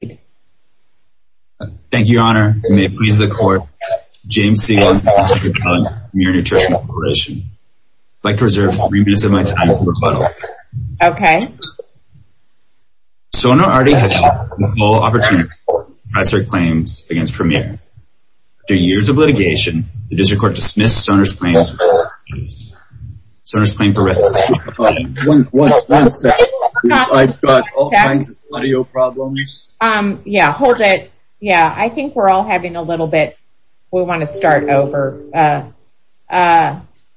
Thank you, Your Honor. May it please the Court, James Stiglitz, District Attorney, Premier Nutrition Corporation. I'd like to reserve three minutes of my time for rebuttal. Okay. Sonner already had the full opportunity to press her claims against Premier. After years of litigation, the District Court dismissed Sonner's claims. Sonner's claim for restitution... One second. I've got all kinds of audio problems. Yeah, hold it. Yeah, I think we're all having a little bit... We want to start over.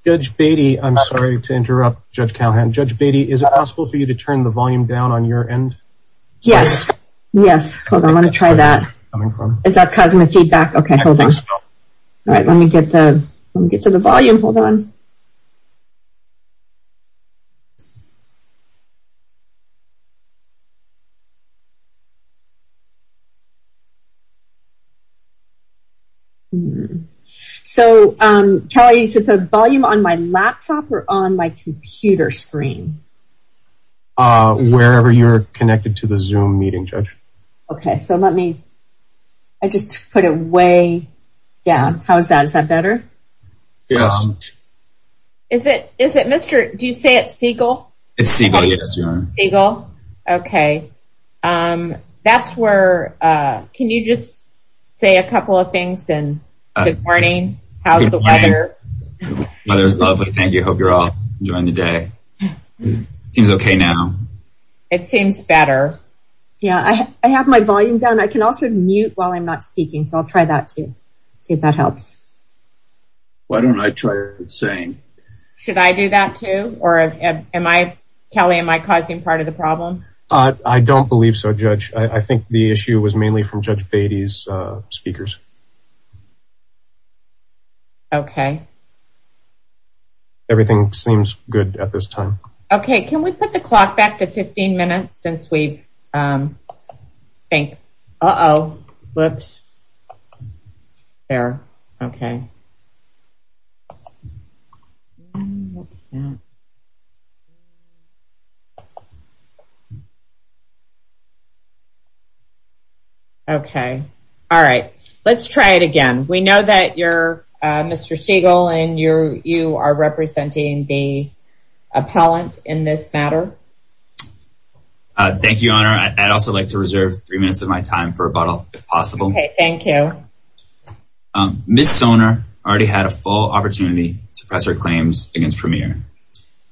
Judge Beatty, I'm sorry to interrupt Judge Calhoun. Judge Beatty, is it possible for you to turn the volume down on your end? Yes. Yes. Hold on, I'm going to try that. Is that causing the feedback? Okay, hold on. All right, let me get to the volume. Hold on. So, Kelly, is it the volume on my laptop or on my computer screen? Wherever you're connected to the Zoom meeting, Judge. Okay, so let me... I just put it way down. How is that? Is that better? Yeah. Is it Mr... Do you say it's Siegel? It's Siegel, yes, Your Honor. Siegel? Okay. That's where... Can you just say a couple of things? Good morning. How's the weather? The weather's lovely. Thank you. I hope you're all enjoying the day. It seems okay now. It seems better. Yeah, I have my volume down. I can also mute while I'm not speaking, so I'll try that too, see if that helps. Why don't I try it the same? Should I do that too, or am I... Kelly, am I causing part of the problem? I don't believe so, Judge. I think the issue was mainly from Judge Beatty's speakers. Okay. Everything seems good at this time. Okay, can we put the clock back to 15 minutes since we think... Uh-oh. Whoops. Error. Okay. What's that? Okay. All right. Let's try it again. We know that you're Mr. Siegel, and you are representing the appellant in this matter. Thank you, Your Honor. I'd also like to reserve three minutes of my time for rebuttal, if possible. Okay, thank you. Ms. Soner already had a full opportunity to press her claims against Premier.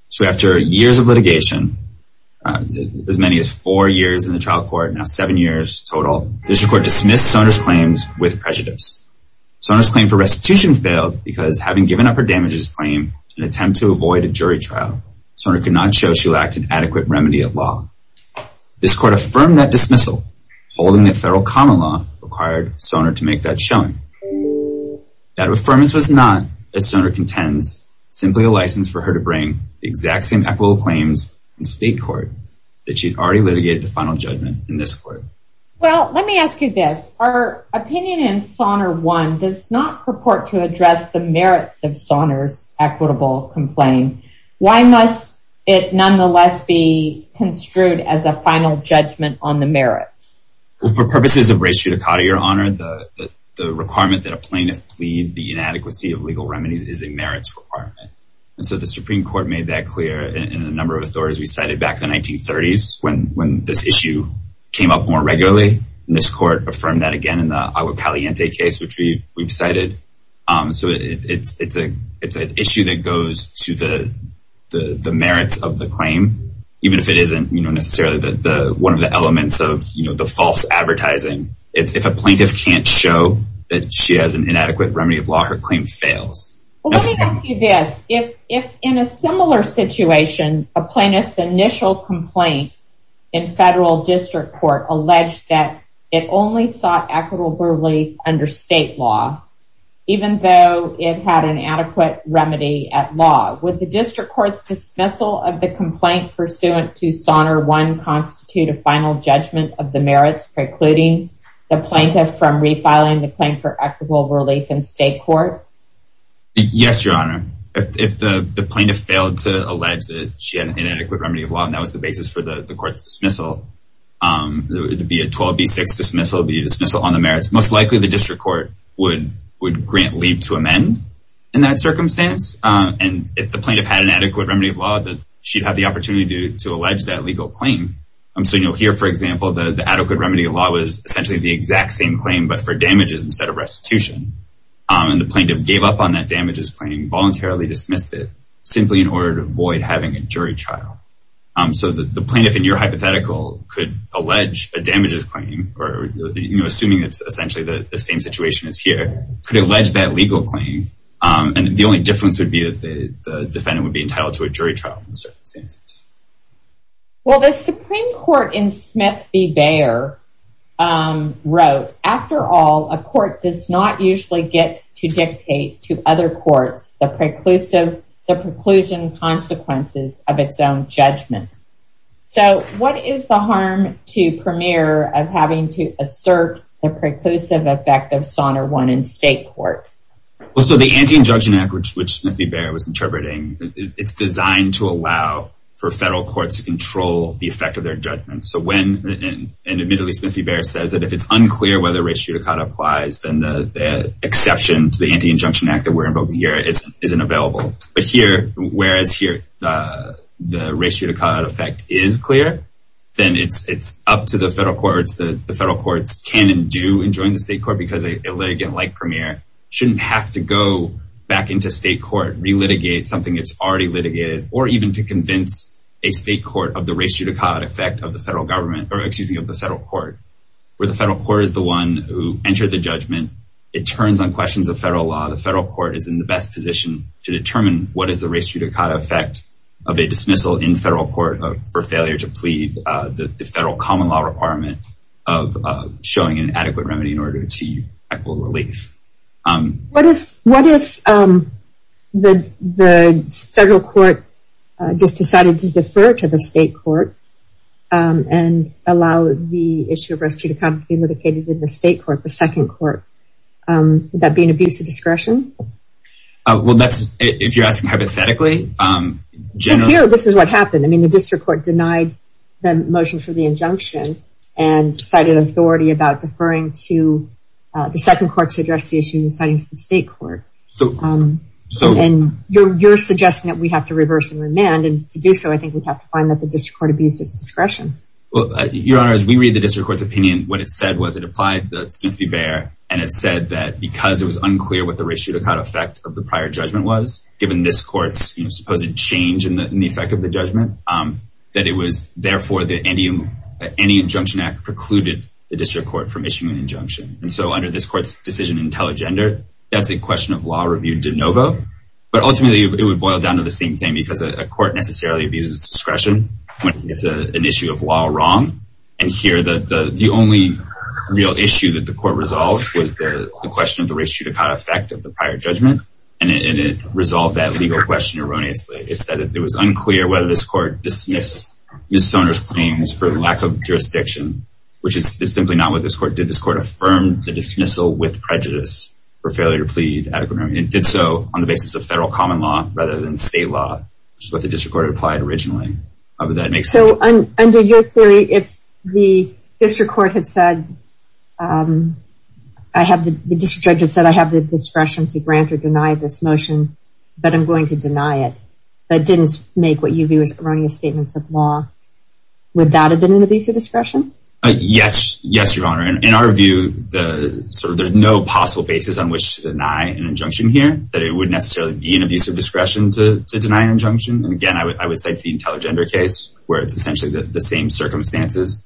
So after years of litigation, as many as four years in the trial court, now seven years total, this court dismissed Soner's claims with prejudice. Soner's claim for restitution failed because having given up her damages claim in an attempt to avoid a jury trial, Soner could not show she lacked an adequate remedy of law. This court affirmed that dismissal, holding that federal common law required Soner to make that showing. That affirmance was not, as Soner contends, simply a license for her to bring the exact same equitable claims in state court that she'd already litigated to final judgment in this court. Well, let me ask you this. Our opinion in Soner 1 does not purport to address the merits of Soner's equitable complaint. Why must it nonetheless be construed as a final judgment on the merits? Well, for purposes of res judicata, Your Honor, the requirement that a plaintiff plead the inadequacy of legal remedies is a merits requirement. And so the Supreme Court made that clear in a number of authorities we cited back in the 1930s when this issue came up more regularly. And this court affirmed that again in the Agua Caliente case, which we've cited. So it's an issue that goes to the merits of the claim, even if it isn't necessarily one of the elements of the false advertising. If a plaintiff can't show that she has an inadequate remedy of law, her claim fails. Well, let me ask you this. If in a similar situation, a plaintiff's initial complaint in federal district court alleged that it only sought equitable brutality under state law, even though it had an adequate remedy at law, would the district court's dismissal of the complaint pursuant to Soner I constitute a final judgment of the merits precluding the plaintiff from refiling the claim for equitable relief in state court? Yes, Your Honor. If the plaintiff failed to allege that she had an inadequate remedy of law, and that was the basis for the court's dismissal, it would be a 12B6 dismissal. It would be a dismissal on the merits. Most likely, the district court would grant leave to amend in that circumstance. If the plaintiff had an adequate remedy of law, she'd have the opportunity to allege that legal claim. Here, for example, the adequate remedy of law was essentially the exact same claim, but for damages instead of restitution. The plaintiff gave up on that damages claim, voluntarily dismissed it, simply in order to avoid having a jury trial. The plaintiff, in your hypothetical, could allege a damages claim, assuming it's essentially the same situation as here, could allege that legal claim. The only difference would be that the defendant would be entitled to a jury trial. Well, the Supreme Court in Smith v. Bayer wrote, after all, a court does not usually get to dictate to other courts the preclusion consequences of its own judgment. So, what is the harm to Premier of having to assert the preclusive effect of Sonner 1 in state court? Well, so the Anti-Injunction Act, which Smith v. Bayer was interpreting, it's designed to allow for federal courts to control the effect of their judgments. So when, and admittedly, Smith v. Bayer says that if it's unclear whether race judicata applies, then the exception to the Anti-Injunction Act that we're invoking here isn't available. But here, whereas here, the race judicata effect is clear, then it's up to the federal courts. The federal courts can and do enjoin the state court because a litigant like Premier shouldn't have to go back into state court, relitigate something that's already litigated, or even to convince a state court of the race judicata effect of the federal government, or excuse me, of the federal court. Where the federal court is the one who entered the judgment, it turns on questions of federal law. The federal court is in the best position to determine what is the race judicata effect of a dismissal in federal court for failure to plead the federal common law requirement of showing an adequate remedy in order to achieve equitable relief. What if the federal court just decided to defer to the state court and allow the issue of race judicata to be litigated in the state court, the second court? Would that be an abuse of discretion? Well, that's, if you're asking hypothetically... So here, this is what happened. I mean, the district court denied the motion for the injunction, and cited authority about deferring to the second court to address the issue and deciding to the state court. So... And you're suggesting that we have to reverse and remand, and to do so, I think we'd have to find that the district court abused its discretion. Well, Your Honor, as we read the district court's opinion, what it said was it applied the Smith v. Bayer, and it said that because it was unclear what the race judicata effect of the prior judgment was, given this court's supposed change in the effect of the judgment, that it was, therefore, that any injunction act precluded the district court from issuing an injunction. And so under this court's decision in telegender, that's a question of law review de novo. But ultimately, it would boil down to the same thing, because a court necessarily abuses its discretion when it's an issue of law wrong. And here, the only real issue that the court resolved was the question of the race judicata effect of the prior judgment. And it resolved that legal question erroneously. Basically, it said that it was unclear whether this court dismissed Ms. Stoner's claims for lack of jurisdiction, which is simply not what this court did. This court affirmed the dismissal with prejudice for failure to plead adequately. It did so on the basis of federal common law rather than state law, which is what the district court had applied originally. So under your theory, if the district court had said, the district judge had said, I have the discretion to grant or deny this motion, but I'm going to deny it, but didn't make what you view as erroneous statements of law, would that have been an abuse of discretion? Yes, Your Honor. In our view, there's no possible basis on which to deny an injunction here, that it would necessarily be an abuse of discretion to deny an injunction. And again, I would cite the telegender case, where it's essentially the same circumstances.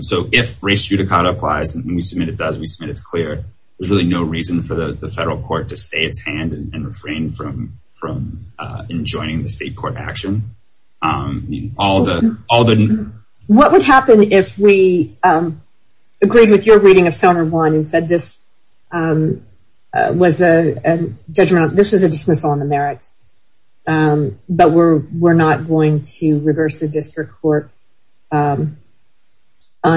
So if race judicata applies, and we submit it does, we submit it's clear, there's really no reason for the federal court to stay its hand and refrain from enjoining the state court action. All the... What would happen if we agreed with your reading of Selma 1 and said this was a judgment, this was a dismissal on the merits, but we're not going to reverse the district court on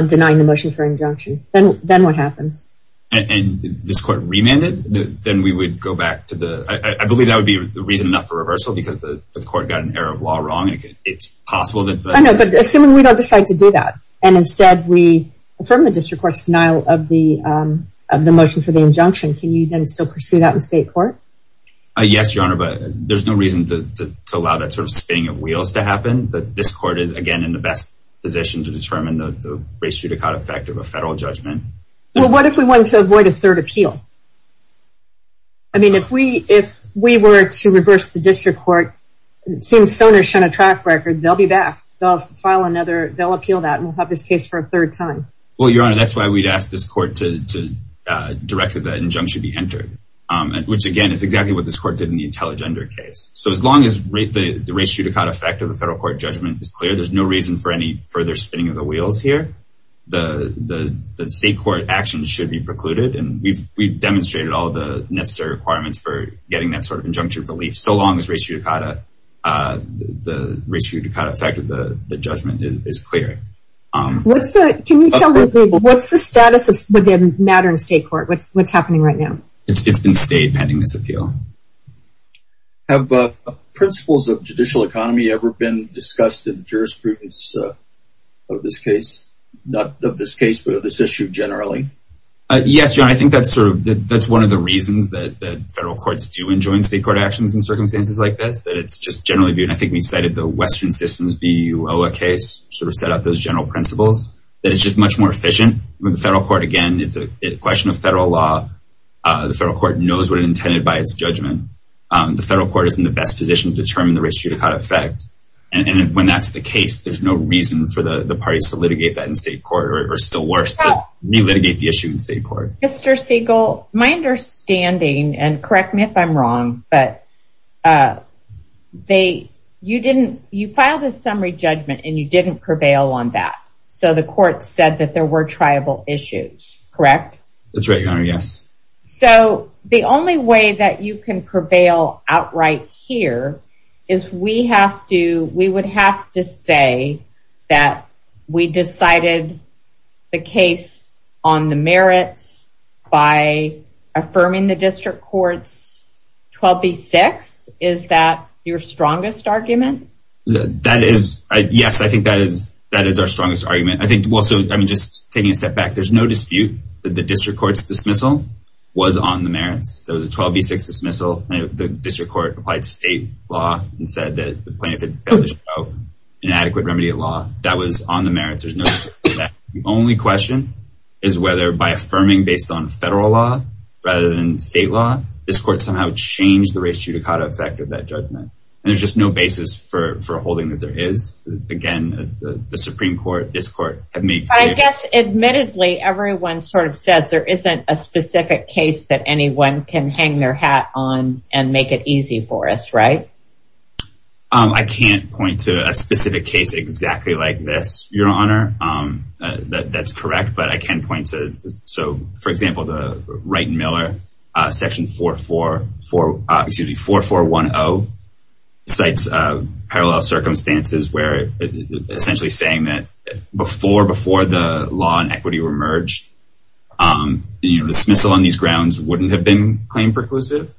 denying the motion for injunction. Then what happens? And this court remanded, we could go back to the... I believe that would be the reason enough for reversal because the court got an error of law wrong and it's possible that... I know, but assuming we don't decide to do that and instead we affirm the district court's denial of the motion for the injunction, can you then still pursue that in state court? Yes, Your Honor, but there's no reason to allow that sort of spinning of wheels to happen. This court is, again, in the best position to determine the race judicata effect of a federal judgment. Well, what if we wanted to avoid a third appeal? I mean, if we were to reverse the district court, it seems Stoner shunned a track record. They'll be back. They'll appeal that and we'll have this case for a third time. Well, Your Honor, that's why we'd ask this court to direct that the injunction be entered, which, again, is exactly what this court did in the Intelligender case. So as long as the race judicata effect of the federal court judgment is clear, there's no reason for any further spinning of the wheels here. The state court actions should be precluded and we've demonstrated all the necessary requirements for getting that sort of injunction relief. So long as race judicata, the race judicata effect of the judgment is clear. Can you tell me, what's the status of the matter in state court? What's happening right now? It's been stayed pending this appeal. Have principles of judicial economy ever been discussed in the jurisprudence of this case? Not of this case, but of this issue generally? Your Honor, I think that's sort of, that's one of the reasons that federal courts do enjoin state court actions in circumstances like this, that it's just generally viewed, and I think we cited the Western Systems v. UOA case, sort of set up those general principles, that it's just much more efficient. The federal court, again, it's a question of federal law. The federal court knows what it intended by its judgment. The federal court is in the best position to determine the race judicata effect. And when that's the case, it's just a matter of what the federal court decides. Mr. Siegel, my understanding, and correct me if I'm wrong, but they, you didn't, you filed a summary judgment and you didn't prevail on that. So the court said that there were triable issues, correct? That's right, Your Honor, yes. So the only way that you can prevail outright here is we have to, by affirming the district court's 12b-6, is that your strongest argument? That is, yes, I think that is our strongest argument. I think, well, so I mean, just taking a step back, there's no dispute that the district court's dismissal was on the merits. There was a 12b-6 dismissal, and the district court applied to state law and said that the plaintiff had failed to show an adequate remedy at law. That was on the merits. There's no dispute with that. The only question is whether by affirming based on federal law rather than state law, this court somehow changed the res judicata effect of that judgment. And there's just no basis for holding that there is. Again, the Supreme Court, this court, have made clear. But I guess, admittedly, everyone sort of says there isn't a specific case that anyone can hang their hat on and make it easy for us, right? I can't point to a specific case where that's correct, but I can point to, so, for example, the Wright & Miller, section 44, excuse me, 4410, cites parallel circumstances where essentially saying that before the law and equity were merged, the dismissal on these grounds wouldn't have been claim-perclusive.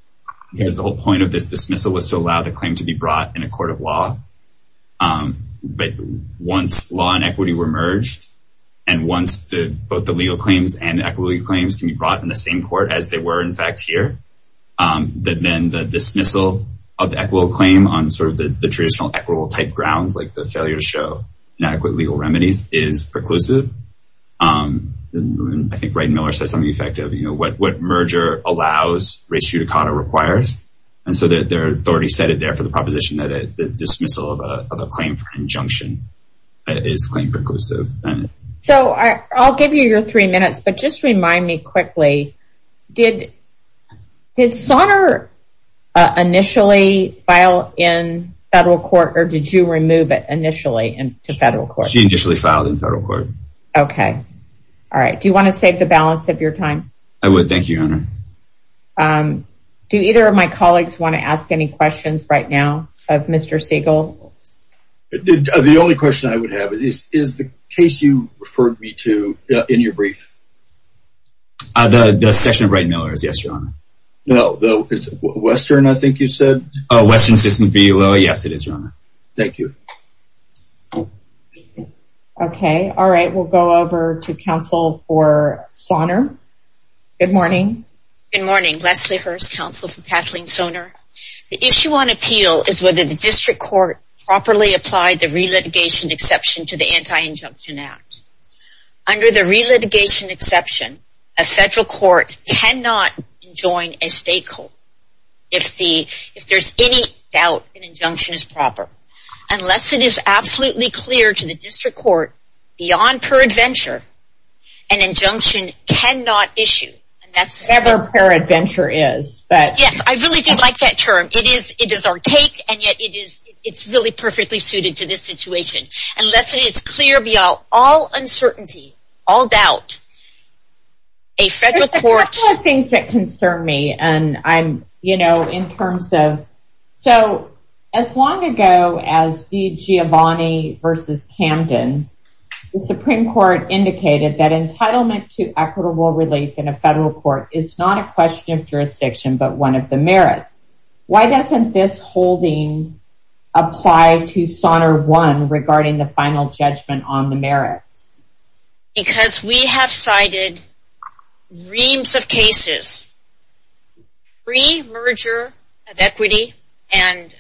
The whole point of this dismissal was to allow the claim to be brought in a court of law. But once law and equity were merged, and once both the legal claims and the equity claims can be brought in the same court as they were, in fact, here, then the dismissal of the equitable claim on sort of the traditional equitable-type grounds like the failure to show inadequate legal remedies is preclusive. I think Wright & Miller said something effective. You know, what merger allows, res judicata requires. And so their authority set it there for the proposition that the dismissal of a claim for injunction is claim-perclusive. So I'll give you your three minutes, but just remind me quickly, did Sonner initially file in federal court, or did you remove it initially to federal court? She initially filed in federal court. Okay. All right. Do you want to save the balance of your time? I would. Thank you, Your Honor. Do either of my colleagues want to ask any questions right now of Mr. Siegel? The only question I would have is, is the case you referred me to in your brief? The section of Wright & Miller's, yes, Your Honor. Western, I think you said? Oh, Western System Bureau, yes, it is, Your Honor. Thank you. Okay. All right. We'll go over to counsel for Sonner. Good morning. Good morning. Leslie Hurst, counsel for Kathleen Sonner. The issue on appeal is a relitigation exception to the Anti-Injunction Act. Under the relitigation exception, a federal court cannot enjoin a stakeholder if there's any doubt an injunction is proper. Unless it is absolutely clear to the district court beyond per adventure, an injunction cannot issue. Whatever per adventure is. Yes, I really do like that term. It is archaic, and yet it's really perfectly suited unless it is clear beyond all uncertainty, all doubt, a federal court... There's a couple of things that concern me, and I'm, you know, in terms of... So, as long ago as DiGiovanni v. Camden, the Supreme Court indicated that entitlement to equitable relief in a federal court is not a question of jurisdiction, but one of the merits. Why doesn't this holding apply to SONER 1 regarding the final judgment on the merits? Because we have cited reams of cases, pre-merger of equity and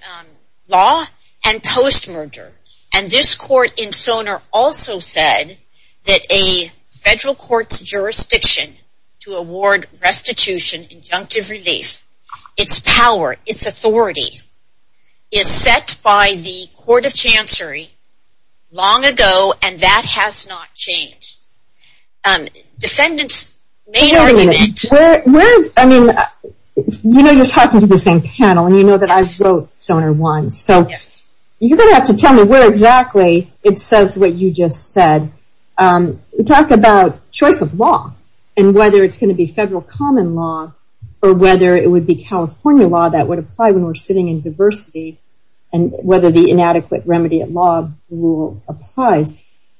law, and post-merger. And this court in SONER also said to award restitution, injunctive relief, its power, its authority, is set by the Court of Chancery long ago, and that has not changed. Defendants may... Wait a minute. I mean, you know you're talking to the same panel, and you know that I wrote SONER 1, so you're going to have to tell me where exactly it says what you just said. Talk about choice of law, and whether it's going to be federal common law, or whether it would be something in diversity, and whether the inadequate remedy at law rule applies.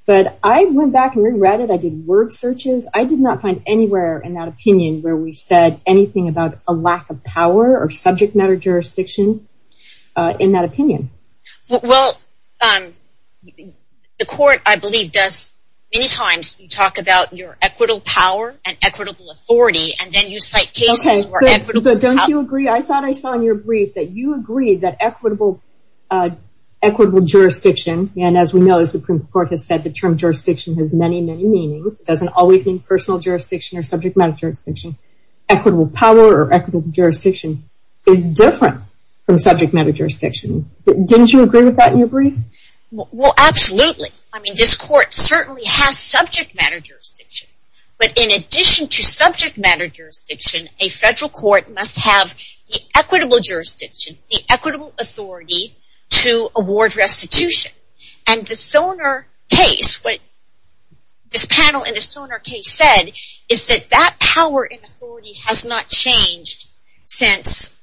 But I went back and re-read it. I did word searches. I did not find anywhere in that opinion where we said anything about a lack of power or subject matter jurisdiction in that opinion. Well, the court, I believe, does many times talk about your equitable power and equitable authority, and then you cite cases where equitable power... Okay, but don't you agree? I thought I saw in your brief that you agreed that equitable jurisdiction, and as we know, the Supreme Court has said the term jurisdiction has many, many meanings. It doesn't always mean personal jurisdiction or subject matter jurisdiction. Equitable power or equitable jurisdiction is different from subject matter jurisdiction. Didn't you agree with that in your brief? Well, absolutely. I mean, this court certainly has subject matter jurisdiction, but in addition to subject matter jurisdiction, a federal court must have the equitable jurisdiction, the equitable authority to award restitution, and the Sonar case, what this panel in the Sonar case said, is that that power and authority has not changed since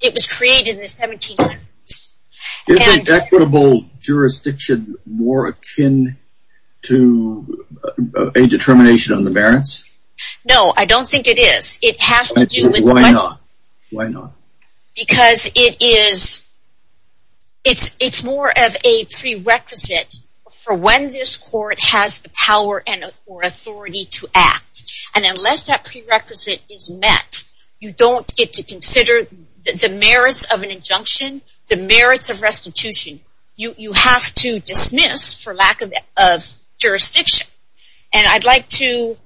it was created in the 1700s. Is equitable jurisdiction more akin to a determination on the merits? No, I don't think it is. Why not? Because it is more of a prerequisite for when this court has the power or authority to act. And unless that prerequisite is met, you don't get to consider the merits of an injunction, the merits of restitution. You have to dismiss for lack of jurisdiction. And I'd like to...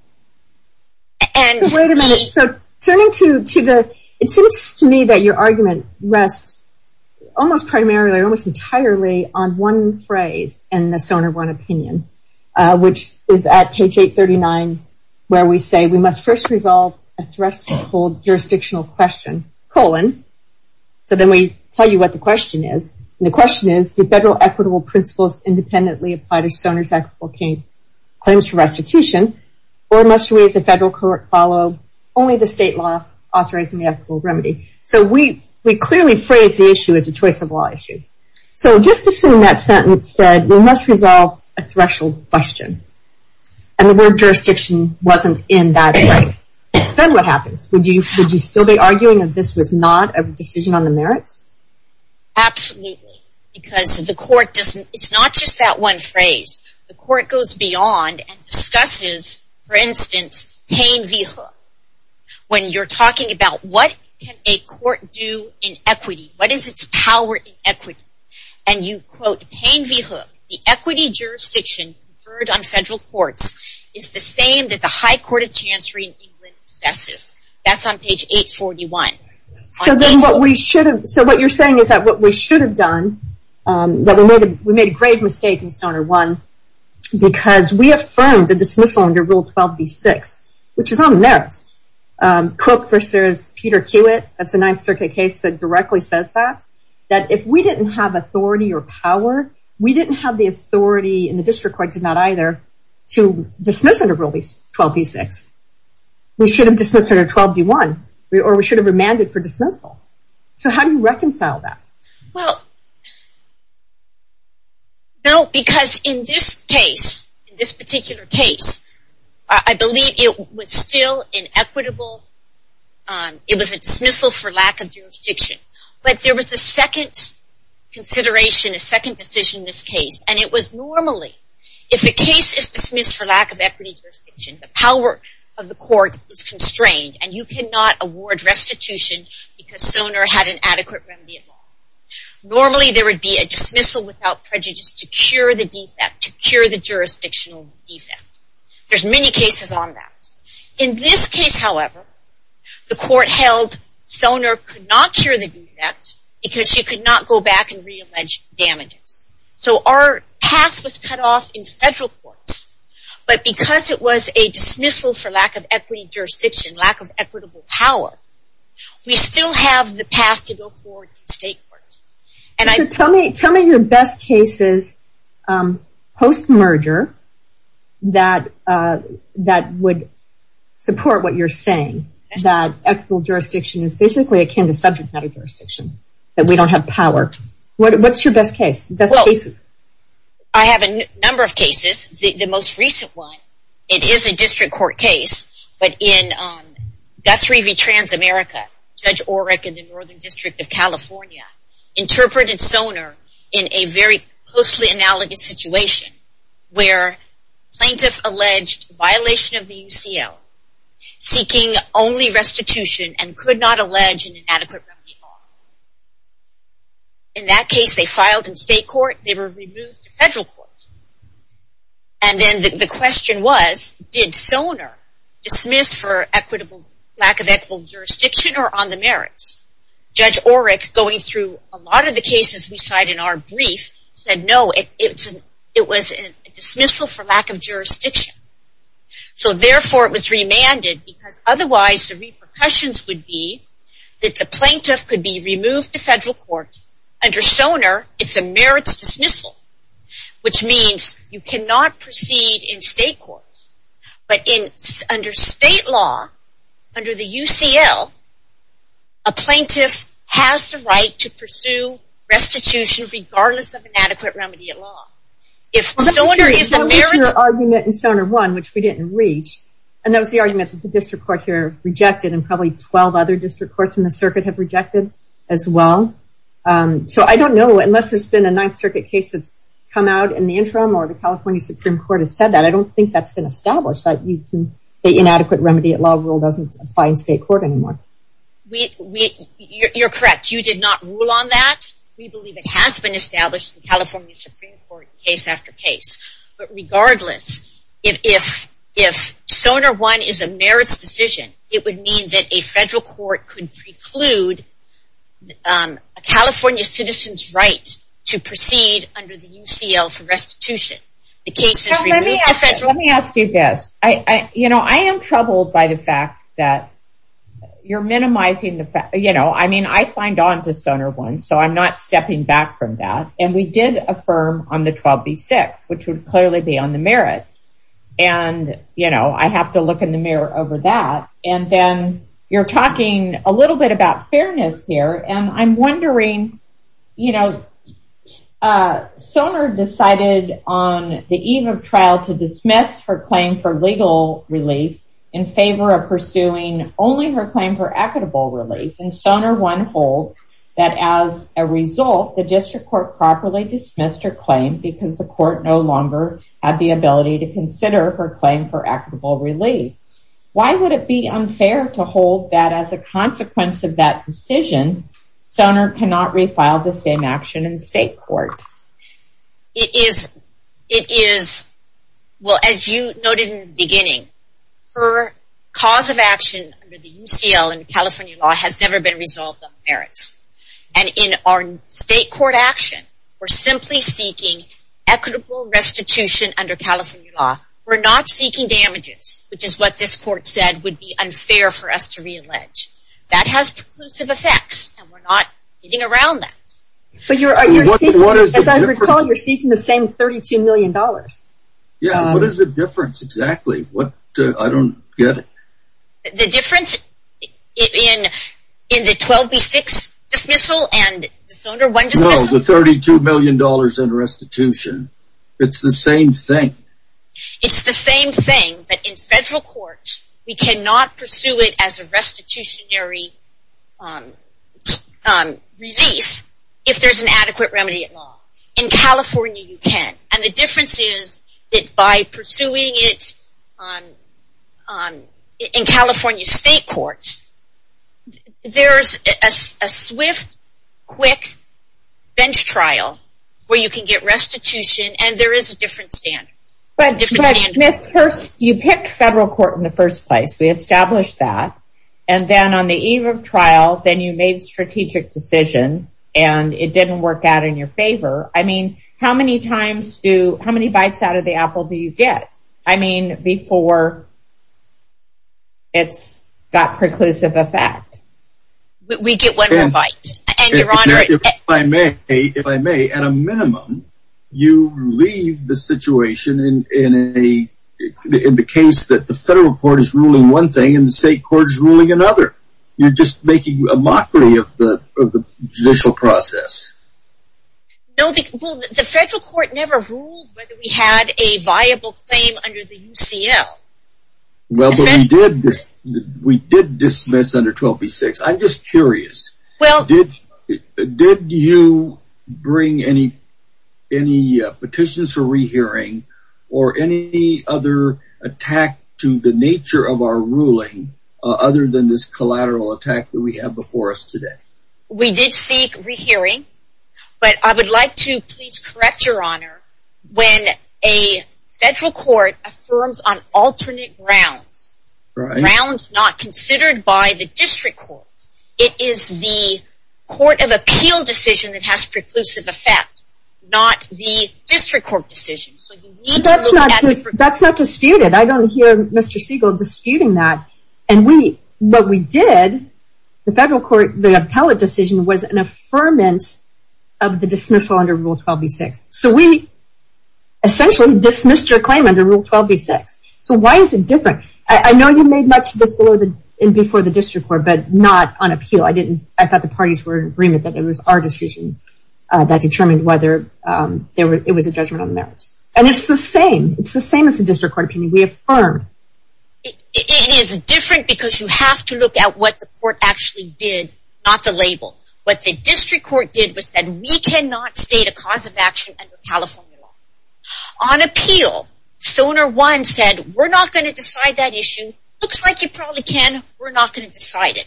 Wait a minute. So turning to the... It seems to me that your argument rests almost primarily or almost entirely on one phrase in the Sonar 1 opinion, which is at page 839 where we say we must first resolve a threshold jurisdictional question, colon. So then we tell you what the question is. The question is, do federal equitable principles independently apply to Sonar's equitable claims for restitution, or must we as a federal court follow only the state law authorizing the equitable remedy? So we clearly phrase the issue as a choice of law issue. So just assume that sentence said we must resolve a threshold question. And the word jurisdiction wasn't in that phrase. Then what happens? Would you still be arguing that this was not a decision on the merits? Absolutely. Because the court doesn't... It's not just that one phrase. The court goes beyond and discusses, for instance, Payne v. Hooke. When you're talking about what can a court do in equity, what is its power in equity, and you quote Payne v. Hooke, the equity jurisdiction conferred on federal courts is the same that the High Court of Chancery in England possesses. That's on page 841. So then what we should have... So what you're saying is that what we should have done, that we made a grave mistake in Sonar 1, because we affirmed the dismissal under Rule 12b-6 which is on the merits. Cooke v. Peter Kiewit, that's a Ninth Circuit case that directly says that, that if we didn't have authority or power, we didn't have the authority and the district court did not either, to dismiss under Rule 12b-6. We should have dismissed under 12b-1 or we should have remanded for dismissal. So how do you reconcile that? Well... No, because in this case, in this particular case, I believe it was still inequitable. It was a dismissal for lack of jurisdiction. But there was a second consideration, a second decision in this case and it was normally, if a case is dismissed for lack of equity jurisdiction, the power of the court is constrained and you cannot award restitution because Sonar had an adequate remedy at law. Normally there would be a dismissal without prejudice to cure the defect, to cure the jurisdictional defect. There's many cases on that. In this case, however, the court held Sonar could not cure the defect because she could not go back and re-allege damages. So our path was cut off in federal courts. But because it was a dismissal for lack of equity jurisdiction, lack of equitable power, we still have the path to go forward in state courts. So tell me your best cases post-merger that would support what you're saying, that equitable jurisdiction is basically akin to subject matter jurisdiction, that we don't have power. What's your best case? I have a number of cases. The most recent one, it is a district court case, but in Guthrie v. Transamerica, Judge Orrick in the Northern District of California interpreted Sonar in a very closely analogous situation where plaintiff alleged violation of the UCL, seeking only restitution and could not allege an inadequate remedy bar. In that case, they filed in state court. They were removed to federal court. And then the question was, did Sonar dismiss for lack of equitable jurisdiction or on the merits? Judge Orrick, going through a lot of the cases we cite in our brief, said no, it was a dismissal for lack of jurisdiction. So therefore, it was remanded because otherwise the repercussions would be that the plaintiff could be removed to federal court. Under Sonar, it's a merits dismissal, which means you cannot proceed in state court. But under state law, under the UCL, a plaintiff has the right to pursue restitution regardless of remedy at law. If Sonar is a merits... Your argument in Sonar 1, which we didn't reach, and that was the argument that the district court here rejected and probably 12 other district courts in the circuit have rejected as well. So I don't know unless there's been a Ninth Circuit case that's come out in the interim or the California Supreme Court has said that. I don't think that's been established that the inadequate remedy at law rule doesn't apply in state court anymore. You're correct. You did not rule on that. We believe it has been established in the California Supreme Court case after case. But regardless, if Sonar 1 is a merits decision, it would mean that a federal court could preclude a California citizen's right to proceed under the UCL for restitution. Let me ask you this. I am troubled by the fact that you're minimizing... I signed on to Sonar 1 so I'm not stepping back from that. And we did affirm on the 12B6 which would clearly be on the merits. And I have to look in the mirror over that. And then you're talking a little bit about fairness here. And I'm wondering Sonar decided on the eve of trial to dismiss her claim for legal relief in favor of pursuing only her claim for equitable relief. And Sonar 1 holds that as a result the district court properly dismissed her claim because the court no longer had the ability to consider her claim for equitable relief. Why would it be unfair to hold that as a consequence of that decision Sonar cannot refile the same action in state court? It is... It is... Well, as you noted in the beginning, her cause of action under the UCL and California law has never been resolved on merits. And in our state court action we're simply seeking equitable restitution under California law. We're not seeking damages, which is what this court said would be unfair for us to re-allege. That has preclusive effects and we're not getting around that. But you're... As I recall, you're seeking the same $32 million. Yeah, what is the difference exactly? What... I don't get it. The difference in the 12B6 dismissal and the Sonar 1 dismissal? No, the $32 million in restitution. It's the same thing. It's the same thing but in federal court we cannot pursue it as a restitutionary relief if there's an adequate remedy at law. In California, you can. And the difference is that by pursuing it in California state court there's a swift, quick bench trial where you can get restitution and there is a different standard. But Ms. Hurst, you picked federal court in the first place. We established that. And then on the eve of trial, then you made strategic decisions and it didn't work out in your favor. I mean, how many times do... How many bites out of the apple do you get? I mean, before it's got preclusive effect. We get one more bite. And, Your Honor... If I may, if I may, at a minimum, you leave the situation in a... in the case that the federal court is ruling one thing and the state court is ruling another. You're just making a mockery of the judicial process. No, because... Well, the federal court never ruled whether we had a viable claim under the UCL. Well, but we did dismiss under 12B6. I'm just curious. Well... Did you bring any petitions for rehearing or any other attack to the nature of our ruling other than this collateral attack that we have before us today? We did seek rehearing, but I would like to please correct, Your Honor, when a federal court affirms on alternate grounds. Right. Grounds not considered by the district court. It is the court of appeal decision that has preclusive effect, not the district court decision. That's not disputed. I don't hear Mr. Siegel disputing that. And we, what we did, the federal court, the appellate decision was an affirmance of the dismissal under Rule 12B6. So we essentially dismissed your claim under Rule 12B6. So why is it different? I know you made much of this before the district court, but not on appeal. I thought the parties were in agreement that it was our decision that determined whether it was a judgment on the merits. And it's the same. It's the same as the district court opinion. We affirm. It is different because you have to look at what the court actually did, not the label. What the district court did was that we cannot state a cause of action under California law. On appeal, SONAR 1 said, we're not going to decide that issue. Looks like you probably can. We're not going to decide it.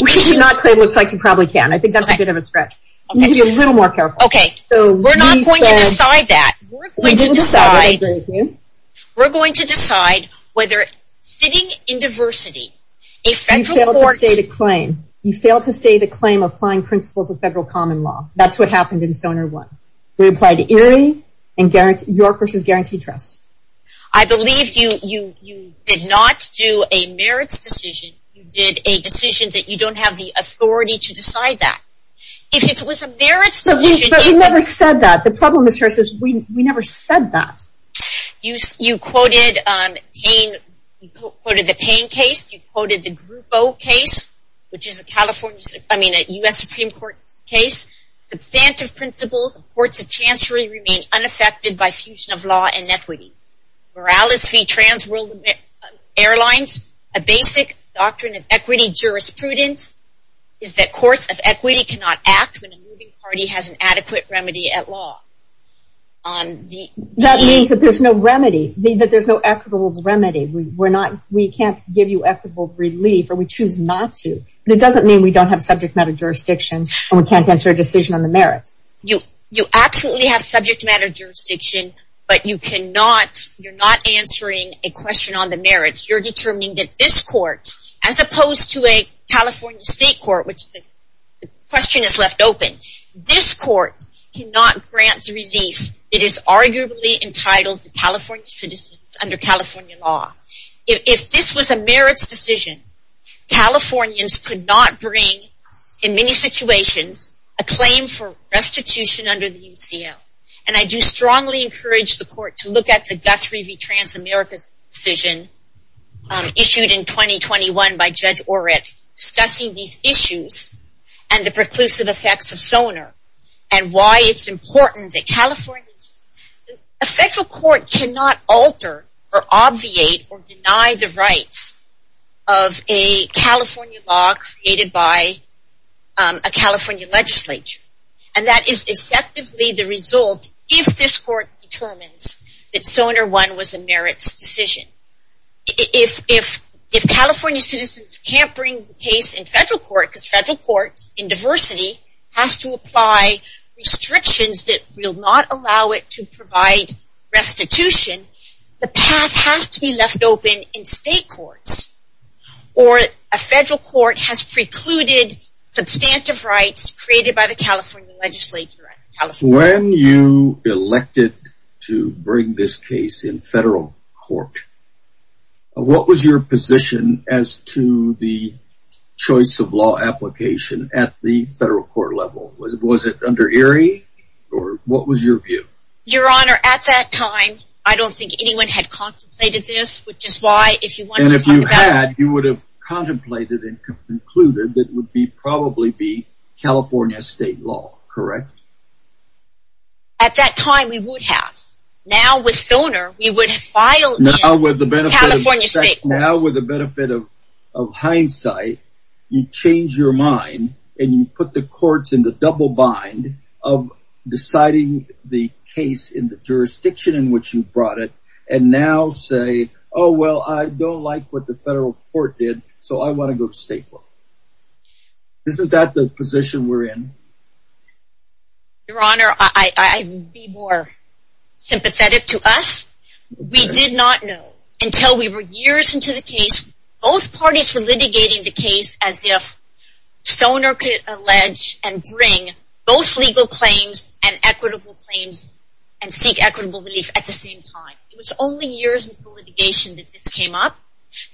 We're not going to decide that. We're going to decide whether sitting in diversity, a federal court... You failed to state a claim of applying principles of federal common law. That's what happened in SONAR 1. We applied ERIE and York v. Guaranteed Trust. I believe you did not do a merits decision. You did a decision that you don't have the authority to decide that. If it was a merits decision... But we never said that. The problem is we never said that. You quoted the Payne case. You quoted the Grupo case, which is a U.S. Supreme Court case. Substantive principles of courts of chancery remain unaffected by fusion of law and equity. Morales v. Transworld Airlines, a basic doctrine of equity jurisprudence, is that courts of equity cannot act when a moving party has an adequate remedy at law. That means that there's no remedy, that there's no equitable remedy. We can't give you equitable relief, or we choose not to. But it doesn't mean we don't have subject matter jurisdiction and we can't answer a decision on the merits. You absolutely have subject matter jurisdiction, but you're not answering a question on the merits. You're determining that this court, as opposed to a California state court, which the question is left open, this court cannot grant the relief that is arguably entitled to California citizens under California law. If this was a merits decision, Californians could not bring, in many situations, a claim for restitution under the California And that's why we issued in 2021 by Judge Orrick discussing these issues and the preclusive effects of SONER and why it's important that Californians... A federal court cannot alter or obviate or deny the rights of a California law created by a California legislature. And that is effectively the result if this court determines that SONER 1 was a merits decision. If California citizens can't bring the case in federal court, because federal courts in diversity have to apply restrictions that will not allow it to provide restitution, the path has to be left open in state courts. Or a federal court has precluded substantive rights created by the California legislature. When you elected to bring this case in federal court, what was your position as to the choice of law application at the federal court level? Was it under Erie or what was your view? Your view was if you had, you would have contemplated and concluded it would probably be California state law, correct? At that time, we would have. Now, with SONER, we would have filed in California state courts. Now, with the benefit of hindsight, you change your mind and you put the courts in the double bind of deciding the case in the jurisdiction in which you brought it and now say, oh, well, I don't like what the federal court did so I want to go to state court. Isn't that the position we're in? Your Honor, I would be more sympathetic to us. We did not know until we were years into the case. Both parties were litigating the case as if SONER could allege and bring both legal claims and equitable claims and seek equitable relief at the same time. It was only years into litigation that this came up.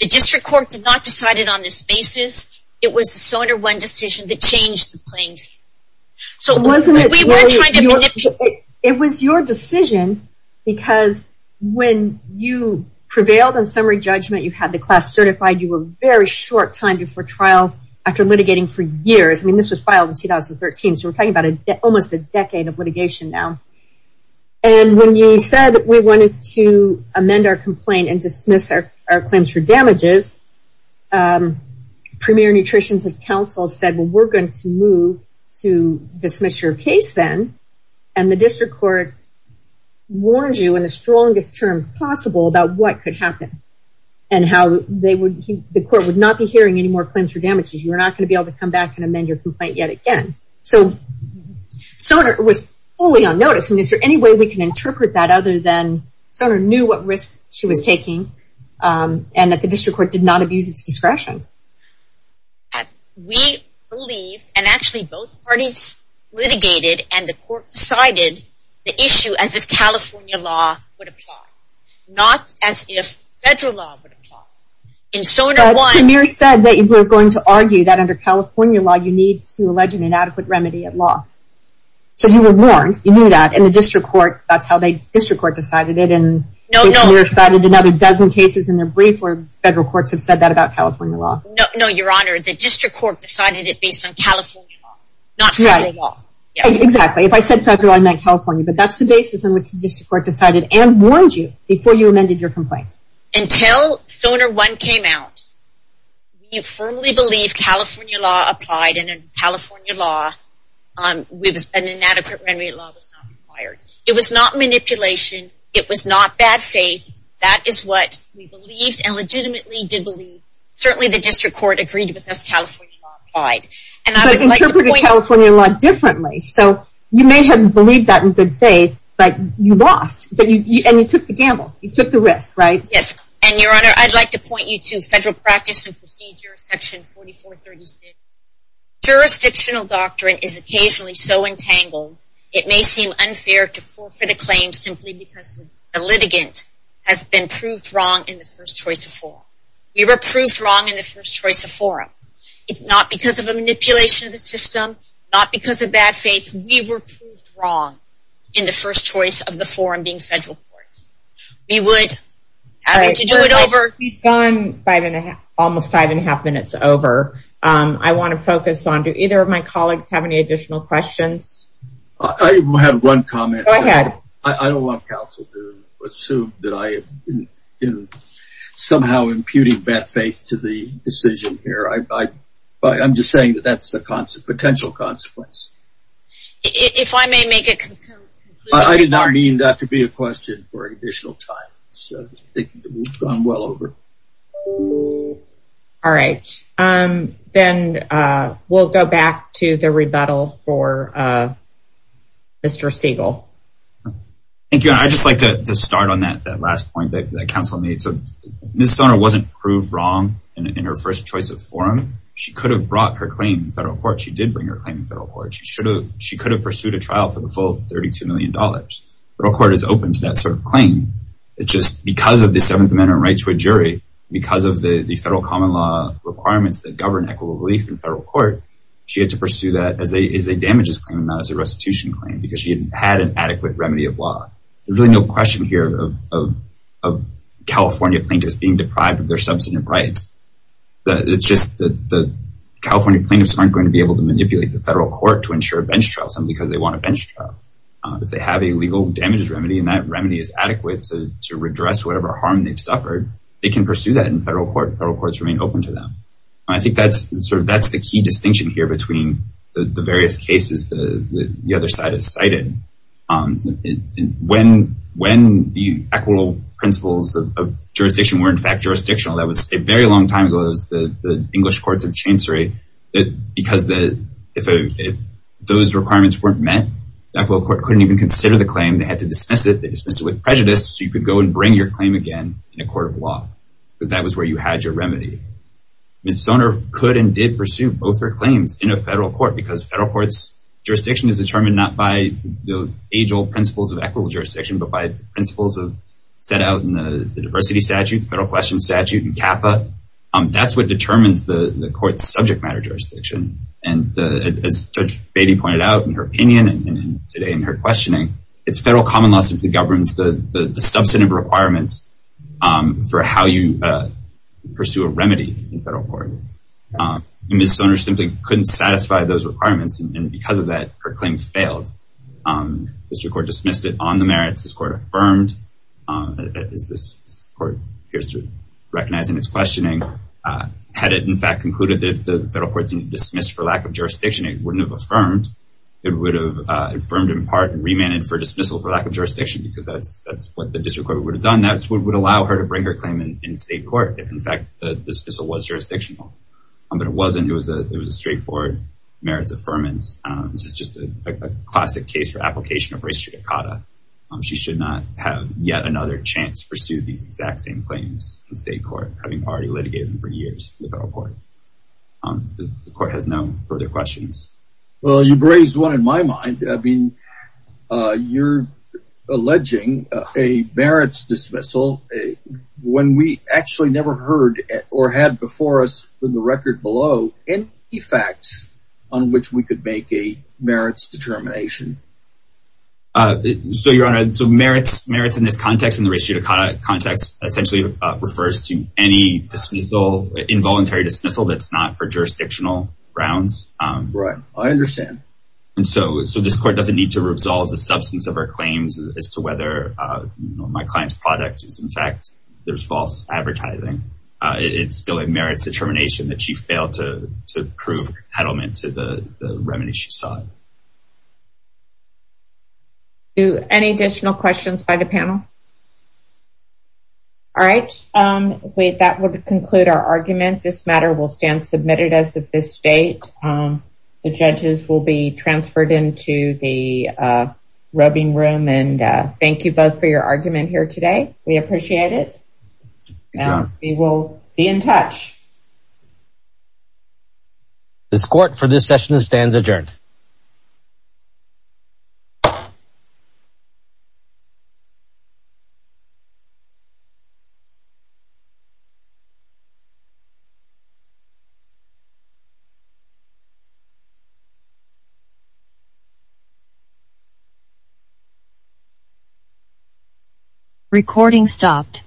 The district court did not decide it on this basis. It was the SONER one decision that changed the claims. We weren't trying to manipulate. It was your decision because when you prevailed on summary judgment, you had the class certified, you were very short time before trial after litigating for years. This was filed in 2013 so we're talking about almost a decade of litigation now. When you said we are going to move to dismiss your case then and the district court warned you in the strongest terms possible about what could happen and how the court would not be hearing any more claims for damages. You were not going to be able to amend your complaint yet again. SONER was fully unnoticed. Is there any way we can interpret that other than SONER knew what risk she was taking and that the district court did not abuse its discretion? We believe and actually both parties litigated and the court decided the issue as if California law would apply. Not as if federal law would apply. Premier said that you were going to argue that under California law you need to allege an inadequate remedy at law. So you were warned. You knew that and the district court decided it and Premier cited another dozen cases in their brief where federal courts have said that about California law. No, Your Honor, the district court decided it based on California law not federal law. Exactly. If I said federal I meant California but that's the basis on which the district court decided and warned you before you amended your complaint. Until SONAR 1 came out we firmly believed California law applied and California law with an inadequate remedy at law was not required. It was not manipulation. It was not bad faith. That is what we believed and legitimately did believe. Certainly the district court agreed with us California law applied. But interpreted California law differently so you may have believed that in good faith but you lost and you took the gamble, you took the risk, right? Yes, and Your Honor, I'd like to point you to federal practice and procedure section 4436. Jurisdictional doctrine is occasionally so entangled it may seem but it's not because of manipulation of the system, not because of bad faith. We were proved wrong in the first choice of the forum being federal court. We would have to do it over. We've gone almost five and a half minutes over. I want to focus on, do either of my colleagues have any additional questions? I have one comment. Go ahead. I don't want to bring bad faith to the decision here. I'm just saying that's a potential consequence. If I may make a conclusion. I did not mean that to be a question for additional time. I think we've gone well over. All right. Then we'll go back to the rebuttal for Mr. Siegel. Thank you. I'd just like to start on that last point that counsel made. Ms. Sonner wasn't proved wrong in her first choice of forum. She could have pursued a trial for the full $32 million. The federal court is open to that sort of claim. Because of the federal common law requirements that govern equitable relief in the federal court, she had to pursue that as a damages claim, not as a restitution claim. There's no question here of California plaintiffs being deprived of their substantive rights. The California plaintiffs aren't going to be able to manipulate the federal court to ensure a bench trial. If they have a legal damages remedy, they can pursue that in the federal court. I think that's the key distinction here between the various cases the has cited. When the equitable principles of jurisdiction were, in fact, jurisdictional, that was a very long time ago, the English courts of chancery, if those requirements weren't met, they had to dismiss it with prejudice so you could bring your remedy. Ms. Soner could and did pursue both her claims in a federal court because the federal court's jurisdiction is determined not by the principles of equity but by the principles set out in the diversity statute, the federal question statute, and CAFA. That's what determines the court's subject matter jurisdiction. And as Judge Beatty pointed out in her opinion and today in her questioning, the federal common law governs the substantive requirements for how you pursue a remedy in the federal court. Ms. Soner couldn't satisfy those requirements and because of that, her claim failed. The district court would have dismissed her claim in state court if the dismissal was jurisdictional. But it wasn't. It was a straightforward merits affirmance. This is just a classic case. She should not have yet another chance to pursue these questions. The court has no further questions. You've raised one in my mind. You're alleging a merits dismissal when we actually never heard or had before us in the record below any facts on which we could make a merits determination. So merits in this context essentially refers to any involuntary dismissal that's not for jurisdictional grounds. Right. I understand. So this court doesn't need to resolve the substance of her claims as to whether my client's product is in fact there's false advertising. It still merits determination that she failed to prove competitive to the remedies she sought. Any additional questions by the panel? All right. That would conclude our argument. This matter will stand submitted as of this date. The judges will be transferred into the rubbing room and thank you both for your argument here today. We appreciate it. We will be in touch. This court for this session stands adjourned. Recording of the concluded. Thank you.